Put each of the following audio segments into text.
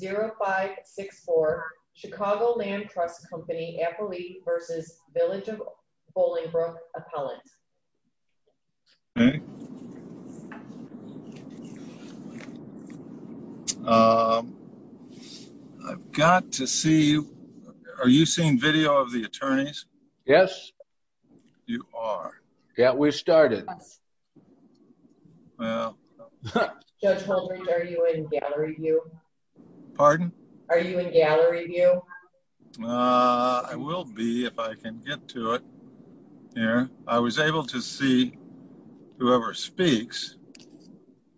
319-0564 Chicago Land Trust Company appellee v. Village of Bollingbrook appellant. I've got to see, are you seeing video of the attorneys? Yes. You are. Yeah, we started. Judge Holdren, are you in gallery view? Pardon? Are you in gallery view? I will be if I can get to it here. I was able to see whoever speaks.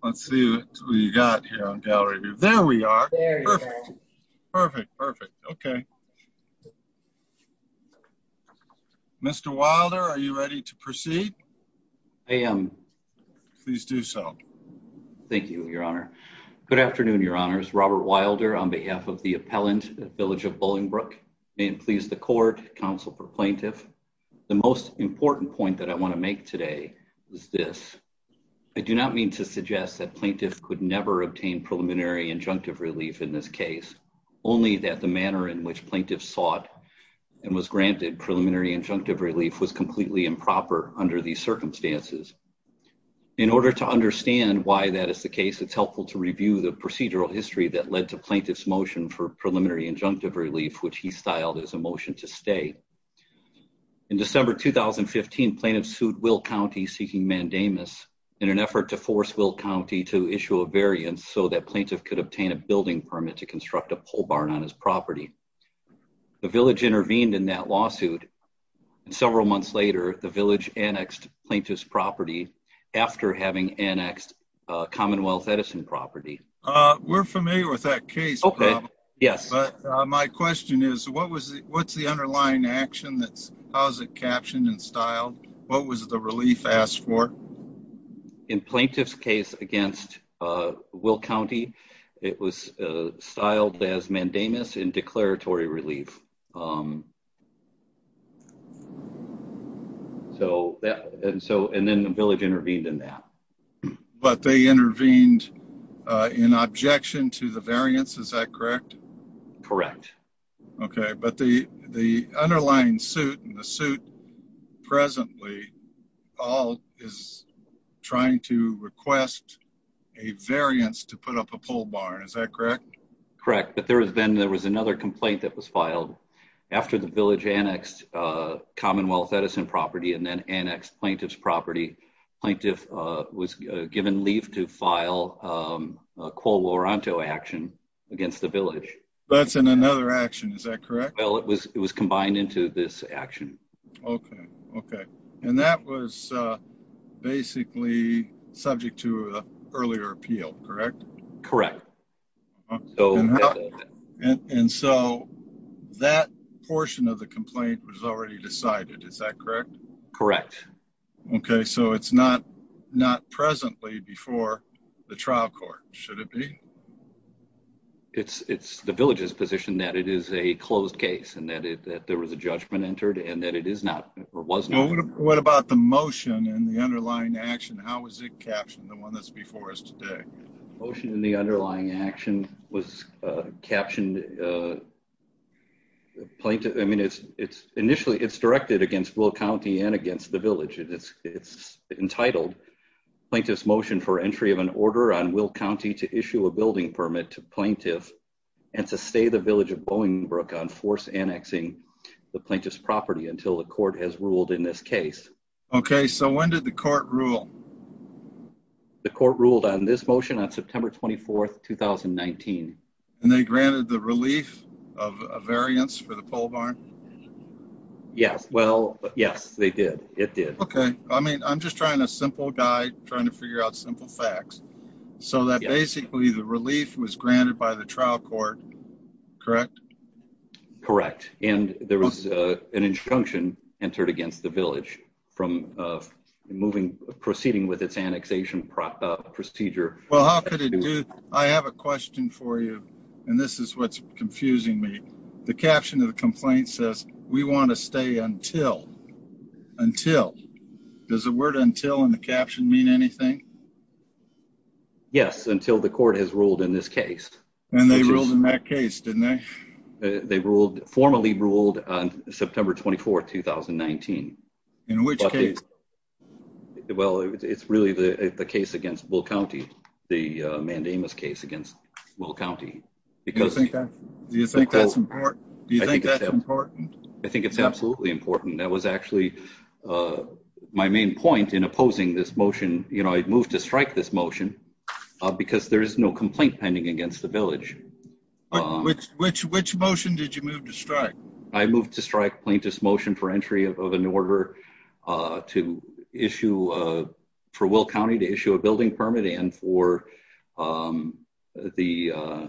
Let's see who you got here on gallery view. There we are. Perfect, perfect, okay. Mr. Wilder, are you ready to proceed? I am. Please do so. Thank you, Your Honor. Good afternoon, Your Honors. Robert Wilder on behalf of the appellant at Village of Bollingbrook. May it please the court, counsel for plaintiff, the most important point that I want to make today is this. I do not mean to suggest that plaintiff could never obtain preliminary injunctive relief in this case, only that the manner in which plaintiff sought and was granted preliminary injunctive relief was completely improper under these circumstances. In order to understand why that is the case, it's helpful to review the procedural history that led to plaintiff's motion for preliminary injunctive relief, which he styled as a motion to stay. In December 2015, plaintiff sued Will County seeking mandamus in an effort to force Will County to issue a variance so that plaintiff could obtain a building permit to construct a pole barn on his property. The village intervened in that lawsuit, and several months later, the village annexed plaintiff's property after having annexed Commonwealth Edison property. We're familiar with that case, but my question is, what's the underlying action? How is it captioned and styled? What was the relief asked for? In plaintiff's case against Will County, it was styled as mandamus in declaratory relief. And then the village intervened in that. But they intervened in objection to the variance, is that correct? Correct. Okay, but the underlying suit and the suit presently all is trying to request a variance to put up a pole barn, is that correct? Correct, but then there was another complaint that was filed after the village annexed Commonwealth Edison property and then annexed plaintiff's property. Plaintiff was given leave to file a qualoranto action against the village. That's in another action, is that correct? Well, it was combined into this action. Okay, and that was basically subject to an earlier appeal, correct? Correct. And so that portion of the complaint was already decided, is that correct? Correct. Okay, so it's not presently before the trial court, should it be? It's the village's position that it is a closed case and that there was a judgment entered and that it is not or was not. What about the motion and the underlying action? How was it captioned, the one that's before us today? Motion in the underlying action was captioned plaintiff, I mean, initially it's directed against Will County and against the village. It's entitled plaintiff's motion for entry of an order on Will County to issue a building permit to plaintiff and to stay the village of Bowenbrook on force annexing the plaintiff's property until the court has ruled in this case. Okay, so when did the court rule? The court ruled on this motion on September 24th, 2019. And they granted the relief of a variance for the pole barn? Yes, well, yes, they did, it did. Okay, I mean, I'm just trying a simple guide, trying to figure out simple facts, so that basically the relief was granted by the trial court, correct? Correct, and there was an injunction entered against the village from proceeding with its annexation procedure. Well, how could it do? I have a question for you, and this is what's confusing me. The caption of the complaint says, we want to stay until, until. Does the word until in the caption mean anything? Yes, until the court has ruled in this case. And they ruled in that case, didn't they? They ruled, formally ruled on September 24th, 2019. In which case? Well, it's really the case against Will County, the mandamus case against Will County. Do you think that's important? I think it's absolutely important. That was actually my main point in opposing this motion. You know, I moved to strike this motion because there is no complaint pending against the village. Which motion did you move to strike? I moved to strike plaintiff's motion for entry of an order to issue, for Will County to issue a building permit and for the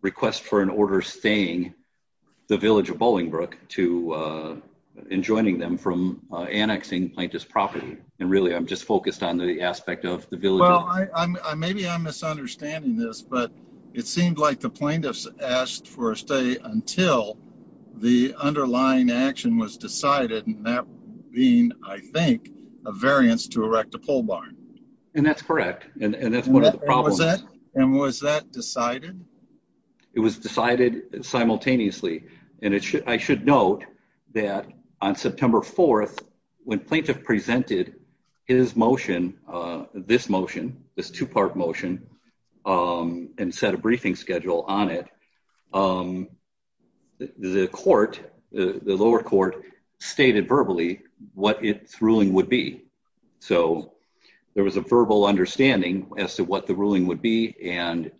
request for an order staying the village of Bolingbrook to, and joining them from annexing plaintiff's property. And really, I'm just focused on the aspect of the village. Well, maybe I'm misunderstanding this, but it seemed like the plaintiffs asked for a stay until the underlying action was decided. And that being, I think, a variance to erect a pole barn. And that's correct. And that's one of the problems. And was that decided? It was decided simultaneously. And it should, I should note that on September 4th, when plaintiff presented his motion, this motion, this two-part motion, and set a briefing schedule on it, the court, the lower court stated verbally what its ruling would be. So there was a verbal understanding as to what the ruling would be. And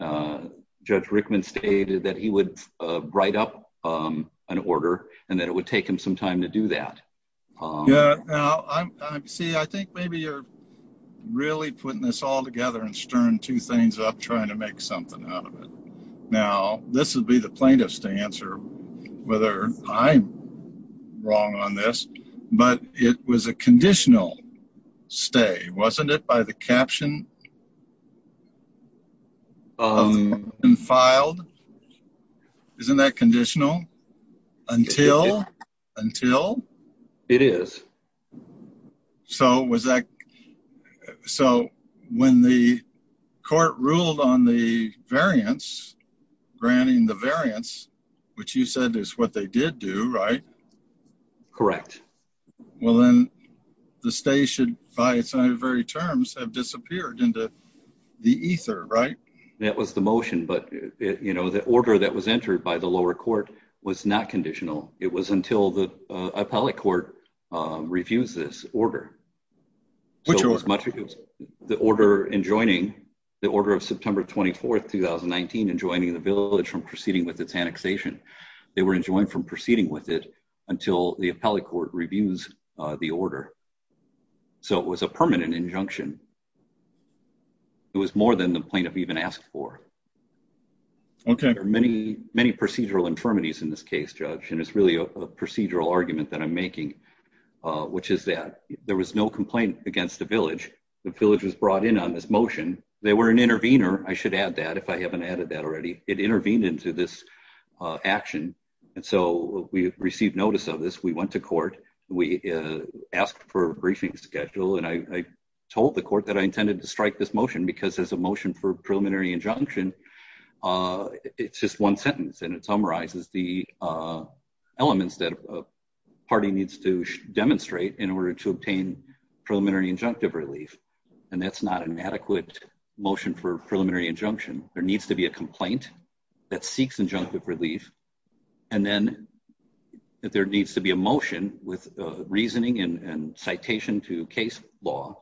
Judge Rickman stated that he would write up an order and that it would take him some time to do that. Yeah. See, I think maybe you're really putting this all together and stirring two things up, trying to make something out of it. Now, this would be the plaintiff's to answer whether I'm wrong on this, but it was a Isn't that conditional? Until? Until? It is. So was that, so when the court ruled on the variance, granting the variance, which you said is what they did do, right? Correct. Well, then the stay should by its very terms have disappeared into the ether, right? That was the motion, but you know, the order that was entered by the lower court was not conditional. It was until the appellate court refused this order. Which order? The order enjoining, the order of September 24th, 2019, enjoining the village from proceeding with its annexation. They were enjoined from proceeding with it until the appellate court reviews the order. So it was a permanent injunction. It was more than the plaintiff even asked for. Okay. There are many, many procedural infirmities in this case, Judge, and it's really a procedural argument that I'm making, which is that there was no complaint against the village. The village was brought in on this motion. They were an intervener. I should add that if I haven't added that already. It intervened into this action, and so we received notice of this. We went to court, we asked for a briefing schedule, and I told the court that I intended to strike this motion because as a motion for preliminary injunction, it's just one sentence, and it summarizes the elements that a party needs to demonstrate in order to obtain preliminary injunctive relief, and that's not an adequate motion for preliminary injunction. There needs to be a complaint that seeks injunctive relief, and then there needs to be a motion with reasoning and citation to case law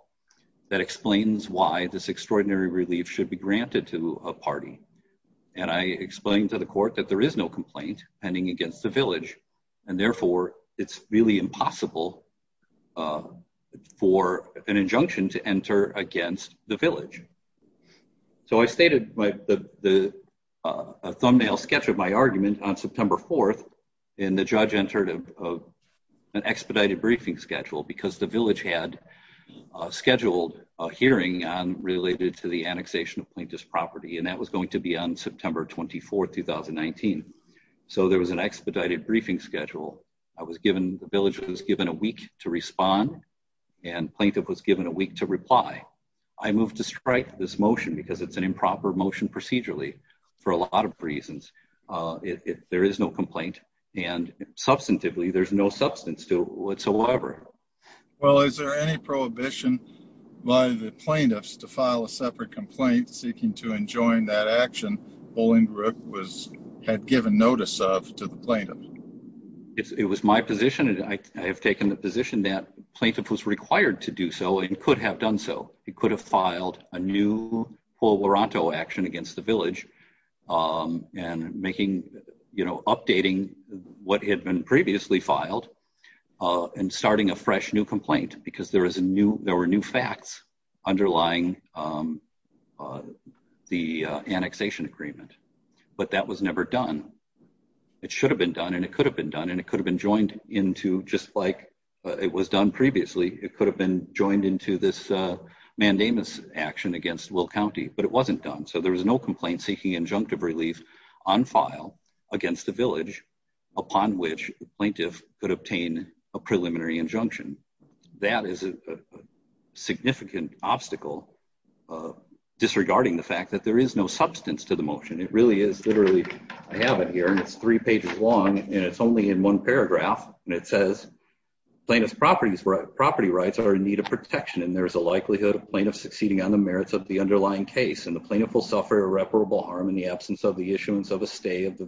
that explains why this extraordinary relief should be granted to a party, and I explained to the court that there is no complaint pending against the village, and therefore it's really impossible for an injunction to enter against the village, so I stated a thumbnail sketch of my argument on September 4th, and the judge entered an expedited briefing schedule because the village had scheduled a hearing on related to the annexation of Plaintiff's property, and that was going to be on September 24th, 2019, so there was an expedited briefing schedule. The village was given a week to respond, and Plaintiff was given a week to reply. I moved to strike this motion because it's an improper motion procedurally for a lot of reasons. There is no complaint, and substantively, there's no substance to it whatsoever. Well, is there any prohibition by the Plaintiffs to file a separate complaint seeking to enjoin that action Paul Ingrup had given notice of to the Plaintiff? It was my position, and I have taken the position that Plaintiff was required to do so and could have done so. He could have filed a new Paul Luranto action against the village and making, you know, updating what had been previously filed and starting a fresh new complaint because there were new facts underlying the annexation agreement, but that was never done. It should have been done, and it could have been done, and it could have been joined into, just like it was done previously, it could have been joined into this mandamus action against Will County, but it wasn't done, so there was no complaint seeking injunctive relief on file against the village upon which Plaintiff could obtain a preliminary injunction. That is a significant obstacle disregarding the fact that there is no substance to the motion. It really is literally, I have it here, and it's three pages long, and it's only in one paragraph, and it says, Plaintiff's property rights are in need of protection, and there is a likelihood of Plaintiffs succeeding on the merits of the underlying case, and the Plaintiff will suffer irreparable harm in the absence of the issuance of a stay of the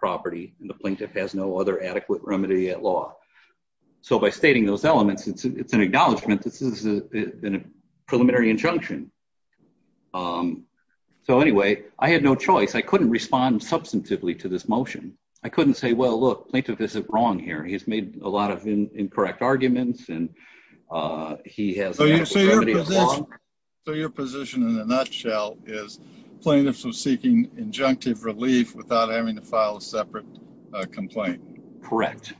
property, and the Plaintiff has no other adequate remedy at law. So by stating those elements, it's an acknowledgment. This is a preliminary injunction. So anyway, I had no choice. I couldn't respond substantively to this motion. I couldn't say, well, look, Plaintiff is wrong here. He's made a lot of incorrect arguments, and he has a remedy at law. So your position in a nutshell is Plaintiff's was seeking injunctive relief without having to file a separate complaint. Correct.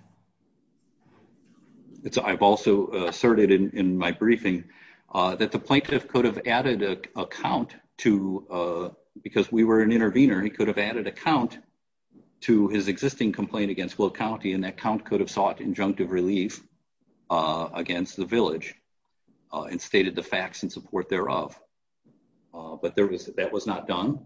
I've also asserted in my briefing that the Plaintiff could have added a count to, because we were an intervener, he could have added a count to his existing complaint against Will County, and that count could have sought injunctive relief against the Village and stated the facts in support thereof. But that was not done.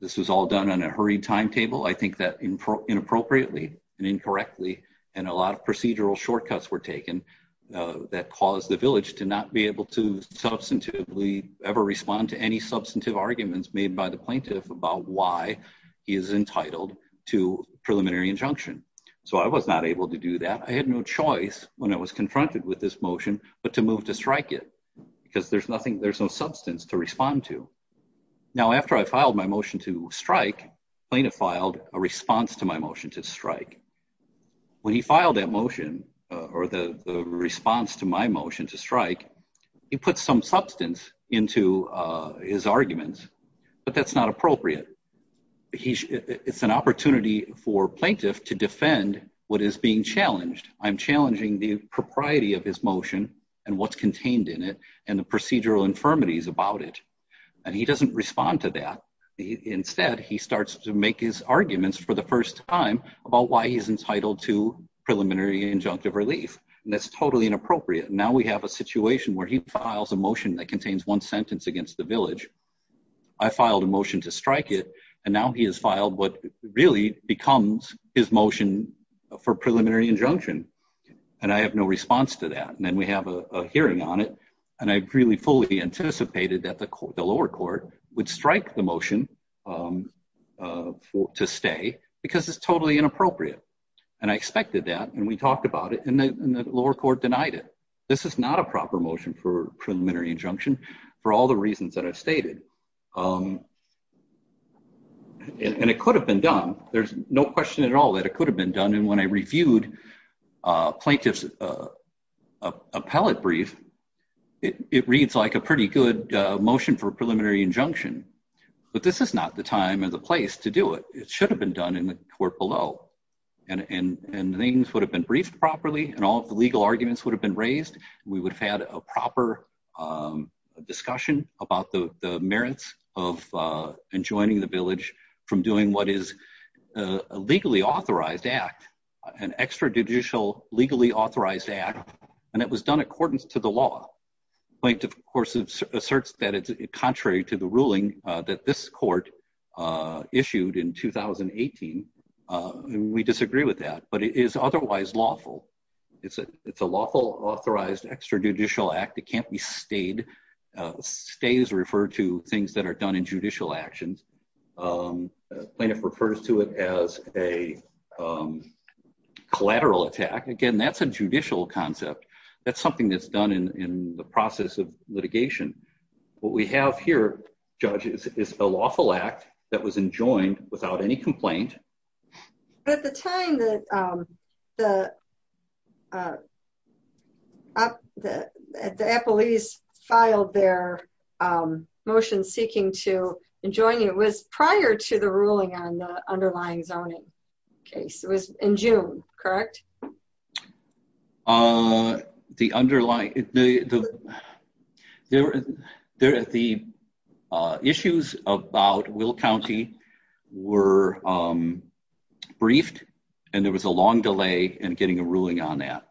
This was all done on a hurried timetable. I think that inappropriately and incorrectly, and a lot of procedural shortcuts were taken that caused the Village to not be able to substantively ever respond to any substantive arguments made by the Plaintiff about why he is entitled to preliminary injunction. So I was not able to do that. I had no choice when I was confronted with this motion, but to move to because there's nothing, there's no substance to respond to. Now after I filed my motion to strike, Plaintiff filed a response to my motion to strike. When he filed that motion, or the response to my motion to strike, he put some substance into his arguments, but that's not appropriate. It's an opportunity for Plaintiff to defend what is being challenged. I'm challenging the procedural infirmities about it, and he doesn't respond to that. Instead, he starts to make his arguments for the first time about why he's entitled to preliminary injunctive relief, and that's totally inappropriate. Now we have a situation where he files a motion that contains one sentence against the Village. I filed a motion to strike it, and now he has filed what really becomes his motion for preliminary injunction, and I have no response to that. And then we have a fully anticipated that the lower court would strike the motion to stay because it's totally inappropriate, and I expected that, and we talked about it, and the lower court denied it. This is not a proper motion for preliminary injunction for all the reasons that I've stated. And it could have been done. There's no question at all that it could have been done, and when I a pretty good motion for preliminary injunction, but this is not the time or the place to do it. It should have been done in the court below, and things would have been briefed properly, and all of the legal arguments would have been raised. We would have had a proper discussion about the merits of enjoining the Village from doing what is a legally authorized act, an extrajudicial legally authorized act, and it was done accordance to the law. Plaintiff, of course, asserts that it's contrary to the ruling that this court issued in 2018, and we disagree with that, but it is otherwise lawful. It's a lawful authorized extrajudicial act. It can't be stayed. Stay is referred to things that are done in judicial actions. Plaintiff refers to it as a collateral attack. Again, that's a judicial concept. That's something that's done in the process of litigation. What we have here, Judge, is a lawful act that was enjoined without any complaint. At the time that the Appalachians filed their motion seeking to enjoin, it was prior to the ruling on the underlying zoning case. It was in June, correct? The underlying... The issues about Will County were briefed, and there was a long delay in getting a ruling on that.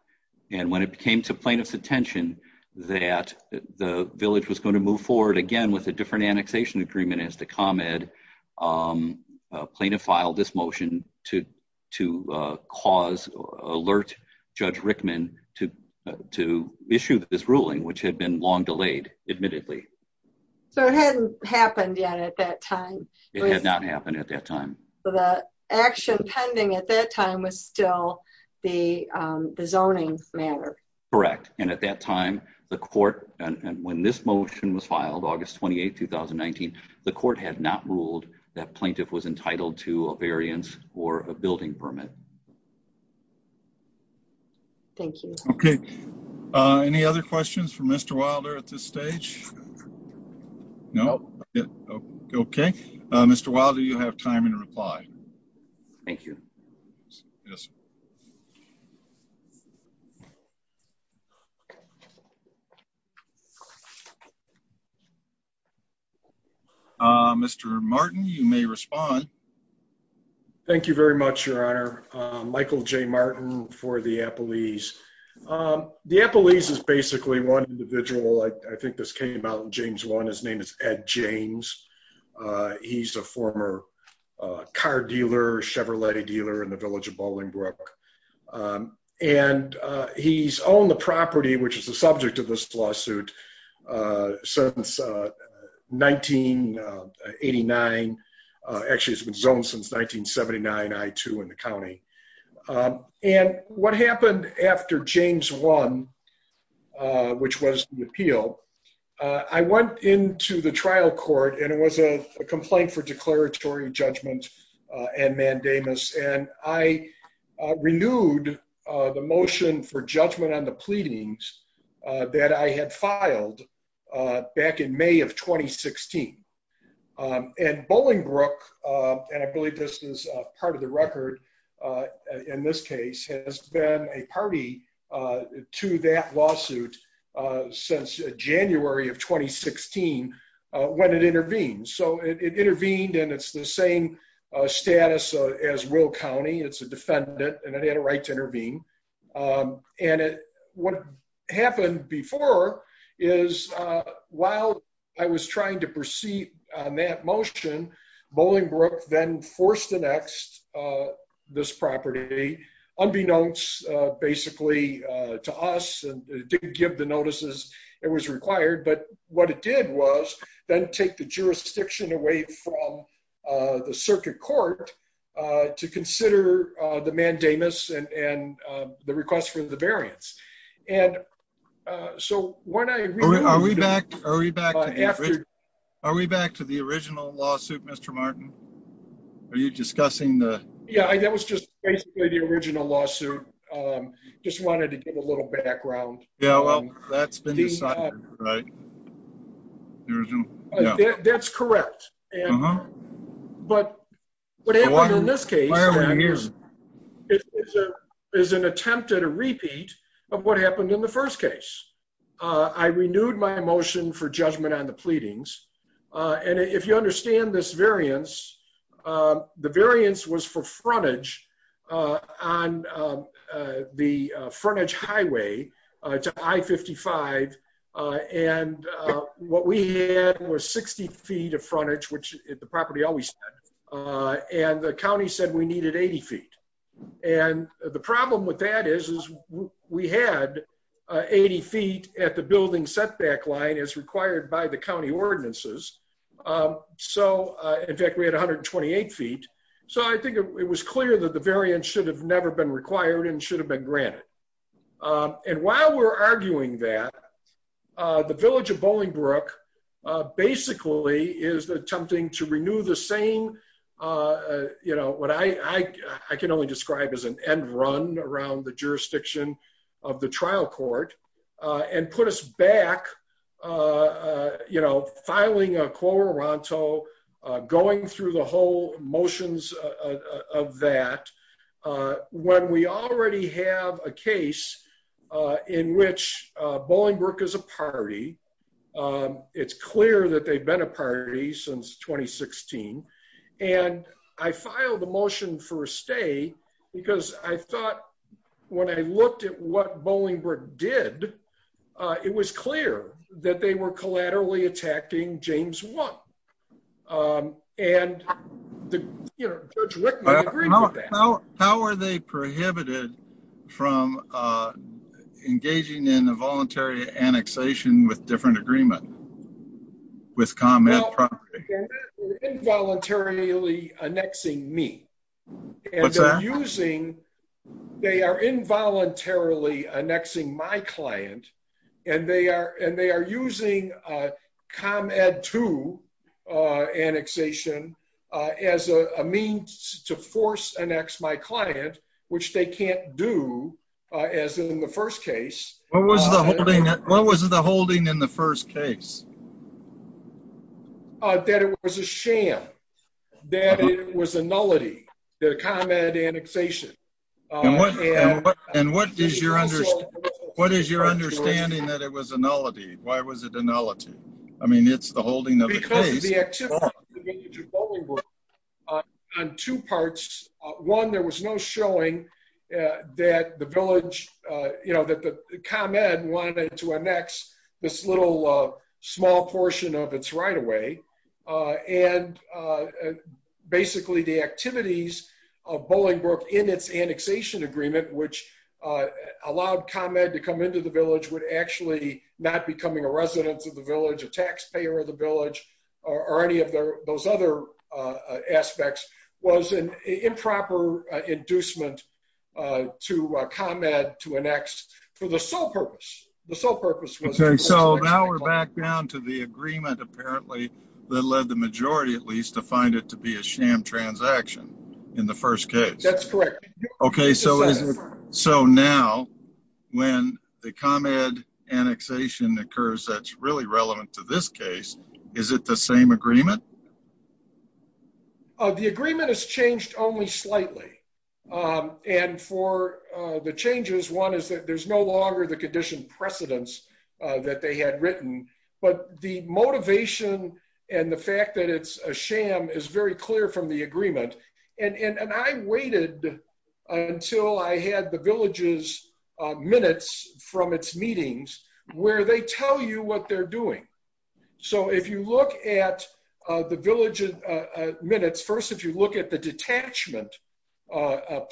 When it came to plaintiff's attention that the Village was going to move forward again with a different annexation agreement as to ComEd, plaintiff filed this motion to alert Judge admittedly. So it hadn't happened yet at that time. It had not happened at that time. So the action pending at that time was still the zoning matter. Correct. And at that time, the court, and when this motion was filed, August 28, 2019, the court had not ruled that plaintiff was entitled to a variance or a building permit. Thank you. Okay. Any other questions for Mr. Wilder at this stage? No? Okay. Mr. Wilder, you have time and reply. Thank you. Yes, sir. Mr. Martin, you may respond. Thank you very much, Your Honor. Michael J. Martin for the Appelese. The Appelese is basically one individual, I think this came out in James 1, his name is Ed James. He's a former car dealer, Chevrolet dealer in the Village of Bolingbrook. And he's owned the property, which is the subject of this lawsuit since 1989. Actually, it's been zoned since 1979, I-2 in the county. And what happened after James 1, which was the appeal, I went into the trial court and it was a complaint for declaratory judgment and mandamus. And I renewed the motion for judgment on the pleadings that I had filed back in May of 2016. And Bolingbrook, and I believe this is part of the record in this case, has been a party to that lawsuit since January of 2016, when it intervened. So it intervened, and it's the same status as Will County, it's a defendant, and it had a right to intervene. And what happened before is, while I was trying to proceed on that motion, Bolingbrook then forced annexed this property, unbeknownst, basically, to us and didn't give the notices it was required. But what it did was then take the jurisdiction away from the circuit court to consider the mandamus and the request for the variance. And so when I- Are we back to the original lawsuit, Mr. Martin? Are you discussing the- Yeah, that was just basically the original lawsuit. Just wanted to give a little background. Yeah, well, that's been decided, right? The original, yeah. That's correct. But what happened in this case is an attempt at a repeat of what happened in the first case. I renewed my motion for judgment on the pleadings. And if you understand this variance, the variance was for frontage on the frontage highway to I-55. And what we had was 60 feet of frontage, which the property always had, and the county said we needed 80 feet. And the problem with that is we had 80 feet at the building setback line as required by the county ordinances. So, in fact, we had 128 feet. So I think it was clear that the variance should have never been required and should have been granted. And while we're arguing that, the village of Bolingbrook basically is attempting to renew the same, what I can only describe as an end run around the jurisdiction of the trial court, and put us back you know, filing a quorum ronto, going through the whole motions of that. When we already have a case in which Bolingbrook is a party, it's clear that they've been a party since 2016. And I filed a motion for a stay, because I thought when I looked at what Bolingbrook did, it was clear that they were collaterally attacking James 1. And, you know, Judge Rickman agreed to that. How are they prohibited from engaging in a voluntary annexation with different agreement with ComEd property? Well, they're involuntarily annexing me. And they're using, they are involuntarily annexing my client, and they are using ComEd 2 annexation as a means to force annex my client, which they can't do, as in the first case. What was the holding in the first case? That it was a sham, that it was a nullity, that a ComEd annexation. And what is your understanding that it was a nullity? Why was it a nullity? I mean, it's the holding of the case. Because of the activity of the Bolingbrook on two parts. One, there was no showing that the village, you know, that the ComEd wanted to annex this little small portion of its right-of-way. And basically, the activities of Bolingbrook in its annexation agreement, which allowed ComEd to come into the village, would actually not becoming a resident of the village, a taxpayer of the village, or any of those other aspects, was an improper inducement to ComEd to annex for the sole purpose. The sole purpose was... Okay, so now we're back down to the agreement, apparently, that led the majority, at least, to find it to be a sham transaction in the first case. That's correct. Okay, so now, when the ComEd annexation occurs, that's really relevant to this case, is it the same agreement? No. The agreement has changed only slightly. And for the changes, one is that there's no longer the condition precedence that they had written. But the motivation and the fact that it's a sham is very clear from the agreement. And I waited until I had the village's minutes from its meetings, where they tell you what they're doing. So if you look at the village's minutes, first, if you look at the detachment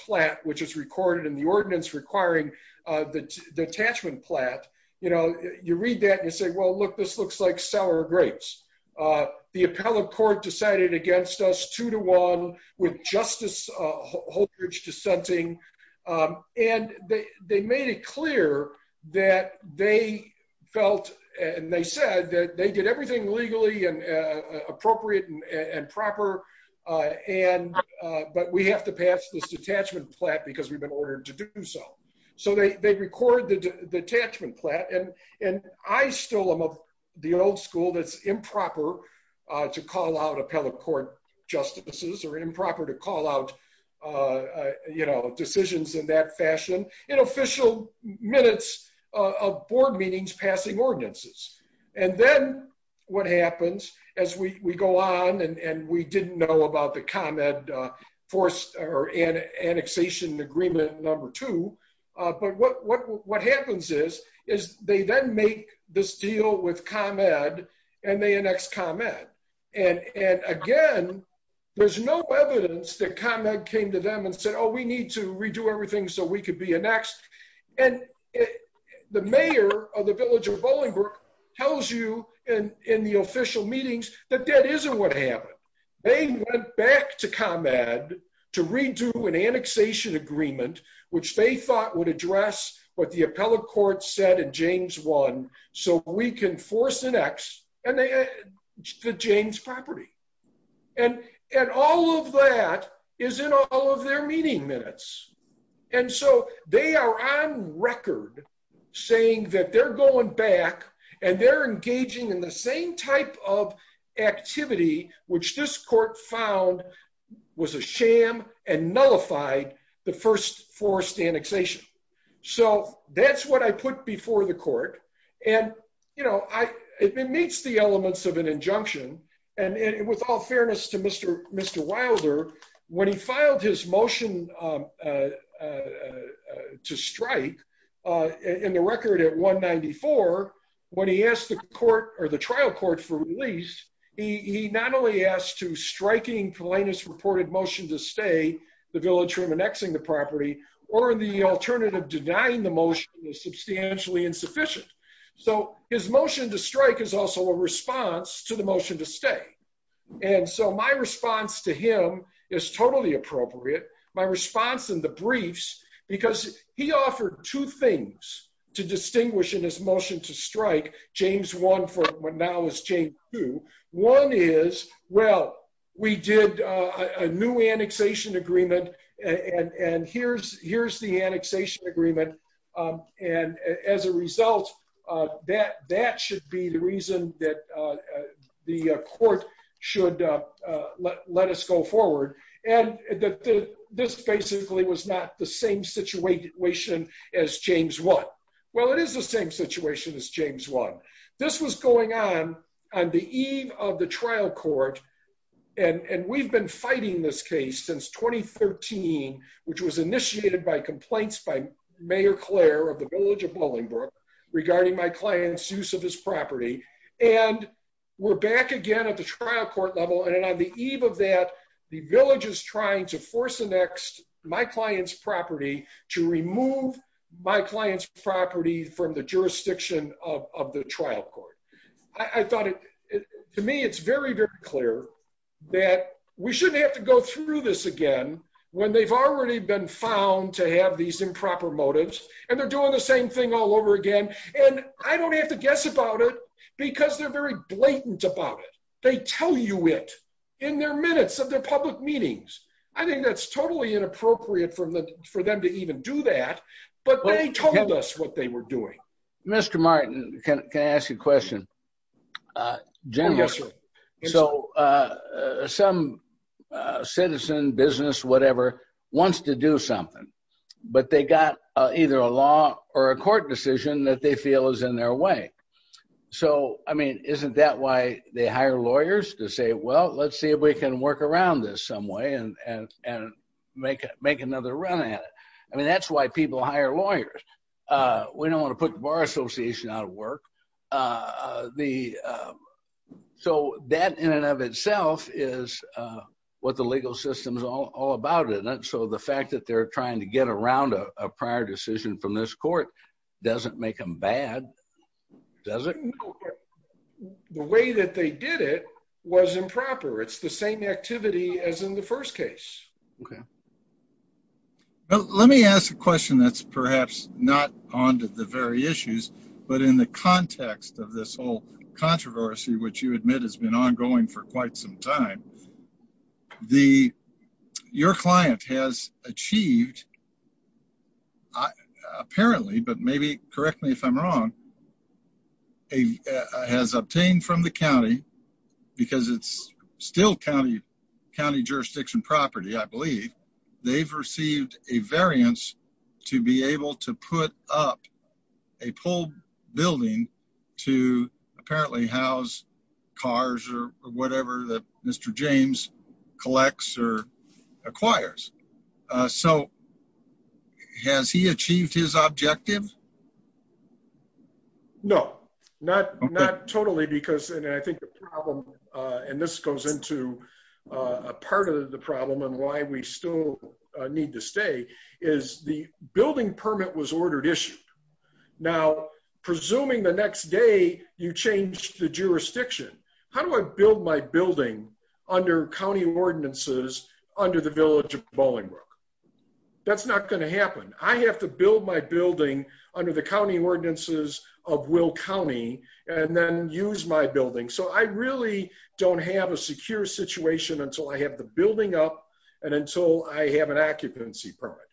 plat, which is recorded in the ordinance requiring the detachment plat, you read that and you say, well, look, this looks like sour grapes. The appellate court decided against us two to one with Justice Holdridge dissenting. And they made it clear that they felt and they said that they did everything legally and appropriate and proper. But we have to pass this detachment plat because we've been ordered to do so. So they record the detachment plat. And I stole them of the old school that's improper to call out appellate court justices or improper to call out decisions in that fashion in official minutes of board meetings passing ordinances. And then what happens as we go on and we didn't know about the comment forced or annexation agreement number two. But what happens is, is they then make this deal with ComEd and they annex ComEd. And again, there's no evidence that ComEd came to them and said, oh, we need to redo everything so we could be annexed. And the mayor of the village of Bolingbrook tells you in the official meetings that that isn't what happened. They went back to ComEd to redo an annexation agreement, which they thought would address what the appellate court said in James one, so we can force an X and the James property. And, and all of that is in all of their meeting minutes. And so they are on record saying that they're going back and they're engaging in the same type of activity, which this court found was a sham and nullified the first forced annexation. So that's what I put before the court. And, you know, I, it meets the elements of an injunction. And with all fairness to Mr. Wilder, when he filed his motion to strike in the record at 194, when he asked the court or the trial court for release, he not only asked to striking Pelanus reported motion to stay the village from annexing the property, or the alternative denying the motion is substantially insufficient. So his motion to strike is also a response to the motion to stay. And so my response to him is totally appropriate. My response in the briefs, because he offered two things to distinguish in his motion to strike James one for what now is changed to one is, well, we did a new annexation agreement. And here's, here's the annexation agreement. And as a result, that that should be the reason that the court should let us go forward. And this basically was not the same situation as James one. Well, it is the same situation as James one, this was going on, on the eve of the which was initiated by complaints by Mayor Claire of the village of Bolingbroke regarding my client's use of his property. And we're back again at the trial court level. And on the eve of that, the village is trying to force the next my client's property to remove my client's property from the jurisdiction of the trial court. I thought it to me, it's very, very clear that we shouldn't have to go through this again, when they've already been found to have these improper motives. And they're doing the same thing all over again. And I don't have to guess about it, because they're very blatant about it. They tell you it in their minutes of their public meetings. I think that's totally inappropriate from the for them to even do that. But they told us what they were doing. Mr. Martin, can I ask you a question? So some citizen business, whatever, wants to do something, but they got either a law or a court decision that they feel is in their way. So I mean, isn't that why they hire lawyers to say, well, let's see if we can work around this and make it make another run at it. I mean, that's why people hire lawyers. We don't want to put the Bar Association out of work. So that in and of itself is what the legal system is all about. And so the fact that they're trying to get around a prior decision from this court doesn't make them bad. Does it? No. The way that they did it was improper. It's the same activity as in the first case. Okay. Well, let me ask a question that's perhaps not onto the very issues. But in the context of this whole controversy, which you admit has been ongoing for quite some time, your client has achieved, apparently, but maybe correct me if I'm wrong, has obtained from the county, because it's still county jurisdiction property, I believe, they've received a variance to be able to put up a pulled building to apparently house cars or whatever that Mr. James collects or acquires. So has he achieved his objective? No, not totally, because I think the problem, and this goes into a part of the problem and why we still need to stay is the building permit was ordered issued. Now, presuming the next day, you change the jurisdiction, how do I build my building under county ordinances under the village of Bollingbrook? That's not going to happen. I have to build my building under the county ordinances of Will County, and then use my building. So I really don't have a secure situation until I have the building up. And until I have an occupancy permit.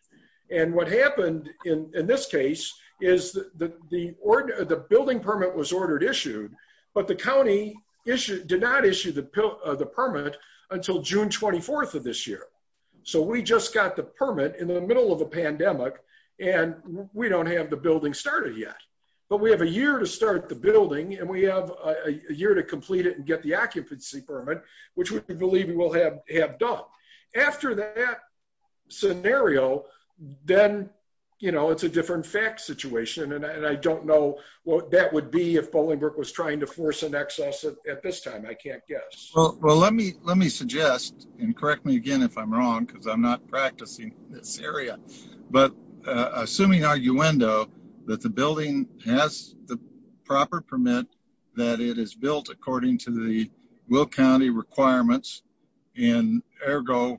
And what happened in this case is the building permit was ordered issued, but the county did not issue the permit until June 24 of this year. So we just got the permit in the middle of a pandemic. And we don't have the building started yet. But we have a year to start the building and we have a year to complete it and get the occupancy permit, which we believe we will have done. After that scenario, then, you know, it's a different fact situation. And I don't know what that would be if Bollingbrook was trying to force an excess at this time, I can't guess. Well, let me let me suggest and correct me again if I'm wrong, because I'm not practicing this area. But assuming arguendo, that the building has the proper permit, that it is built according to the Will County requirements. And ergo,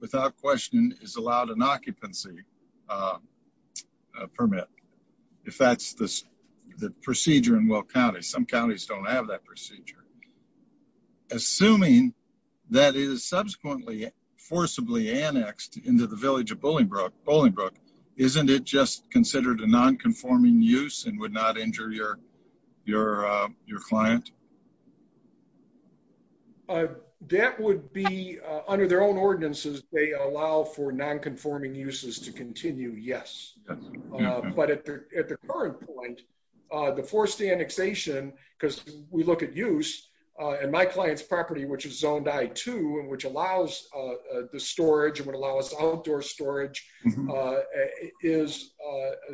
without question is allowed an occupancy permit. If that's the procedure in Will County, some counties don't have that procedure. Assuming that it is subsequently forcibly annexed into the village of Bollingbrook, Bollingbrook, isn't it just considered a non conforming use and would not injure your, your, your client? That would be under their own ordinances, they allow for non conforming uses to continue, yes. But at the current point, the forced annexation, because we look at use, and my client's property, which is zoned I-2 and which allows the storage and would allow us outdoor storage is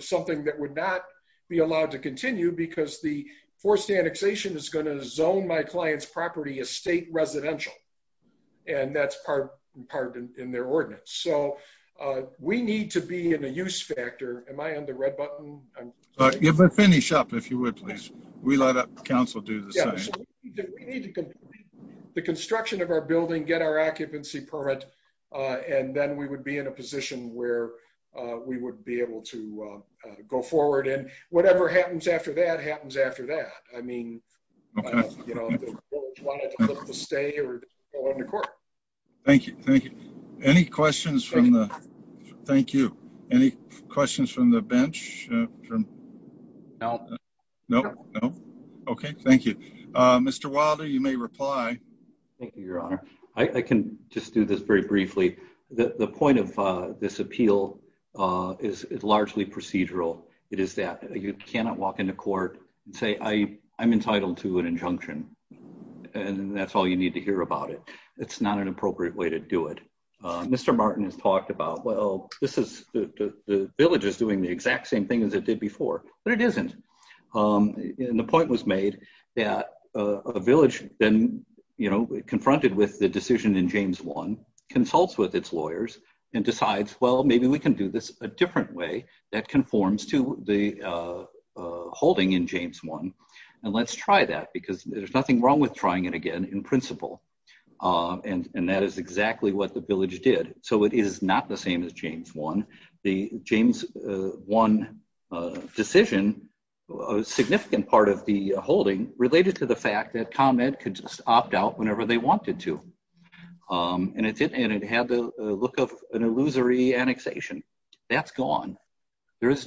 something that would not be allowed to continue because the forced annexation is going to zone my client's property as state residential. And that's part part in their ordinance. So we need to be in a use factor. Am I on the red button? If I finish up, if you would, please, we let up council do the the construction of our building, get our occupancy permit. And then we would be in a position where we would be able to go forward and whatever happens after that happens after that. I mean, Thank you. Thank you. Any questions from the Thank you. Any questions from the bench? No, no. Okay, thank you. Mr. Wilder, you may reply. Thank you, Your Honor. I can just do this very briefly. The point of this appeal is largely procedural. It is that you cannot walk into court and say, I'm entitled to an injunction. And that's all you need to hear about it. It's not an appropriate way to do it. Mr. Martin has talked about, well, this is the village is doing the exact same thing as it did decision in James one consults with its lawyers and decides, well, maybe we can do this a different way that conforms to the holding in James one. And let's try that because there's nothing wrong with trying it again in principle. And that is exactly what the village did. So it is not the same as James one, the James one decision, a significant part of the holding related to the comment could just opt out whenever they wanted to. And it had the look of an illusory annexation. That's gone. There's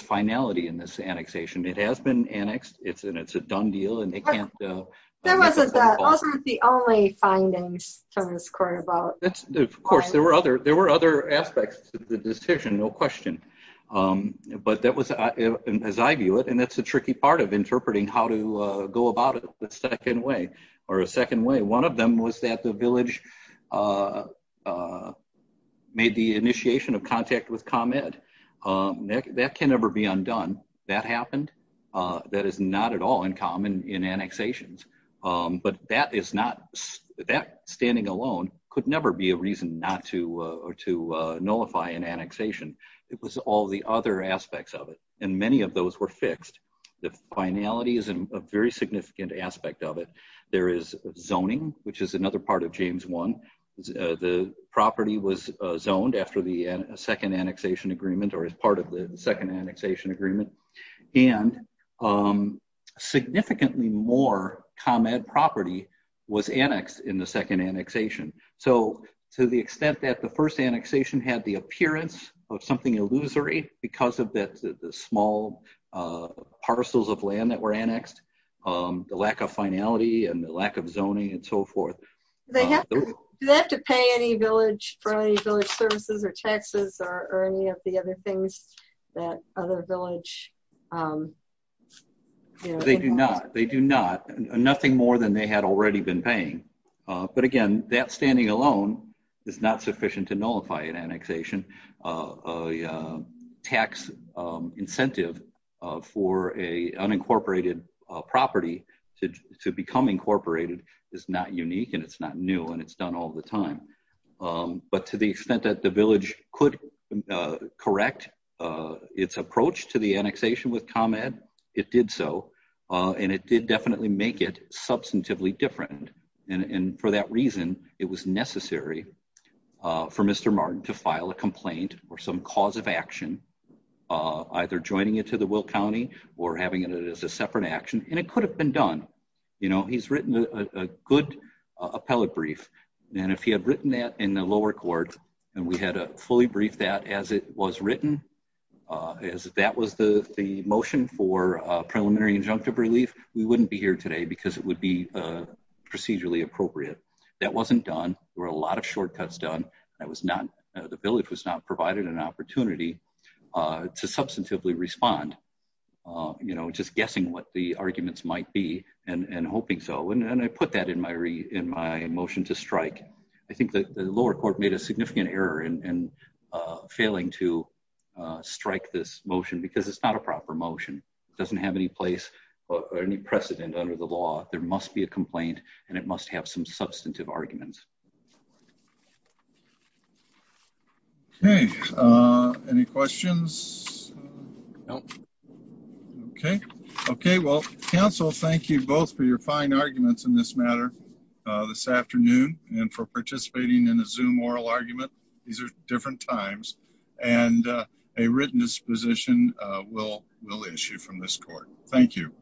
finality in this annexation. It has been annexed. It's a done deal and they can't- That wasn't the only findings from this court about- Of course, there were other aspects to the decision, no question. But that was, as I view it, and that's the tricky part of interpreting how to go about it the second way or a second way. One of them was that the village made the initiation of contact with ComEd. That can never be undone. That happened. That is not at all uncommon in annexations. But that is not- That standing alone could never be a reason not to nullify an annexation. It was all the other aspects of it. And many of those were fixed. The finality is a very significant aspect of it. There is zoning, which is another part of James one. The property was zoned after the second annexation agreement or as part of the second annexation agreement. And significantly more ComEd property was annexed in the second annexation. So to the extent that the first annexation had the appearance of something illusory because of the small parcels of land that were annexed, the lack of finality and the lack of zoning and so forth- Do they have to pay any village for any village services or taxes or any of the other things that other village- They do not. They do not. Nothing more than they had already been paying. But again, that standing alone is not sufficient to nullify an annexation. A tax incentive for a unincorporated property to become incorporated is not unique and it's not new and it's done all the time. But to the extent that the village could correct its approach to the annexation with ComEd, it did so. And it did definitely make it some cause of action, either joining it to the Will County or having it as a separate action. And it could have been done. You know, he's written a good appellate brief and if he had written that in the lower court and we had a fully briefed that as it was written, as that was the motion for preliminary injunctive relief, we wouldn't be here today because it would be procedurally appropriate. That wasn't done. There were a lot of shortcuts done. I was not- The village was not provided an opportunity to substantively respond, you know, just guessing what the arguments might be and hoping so. And I put that in my motion to strike. I think the lower court made a significant error in failing to strike this motion because it's not a proper motion. It doesn't have any place or any precedent under the law. There must be a complaint and it must have some substantive arguments. Okay. Any questions? No. Okay. Okay. Well, counsel, thank you both for your fine arguments in this matter this afternoon and for participating in the Zoom oral argument. These are different times and a written disposition will issue from this court. Thank you.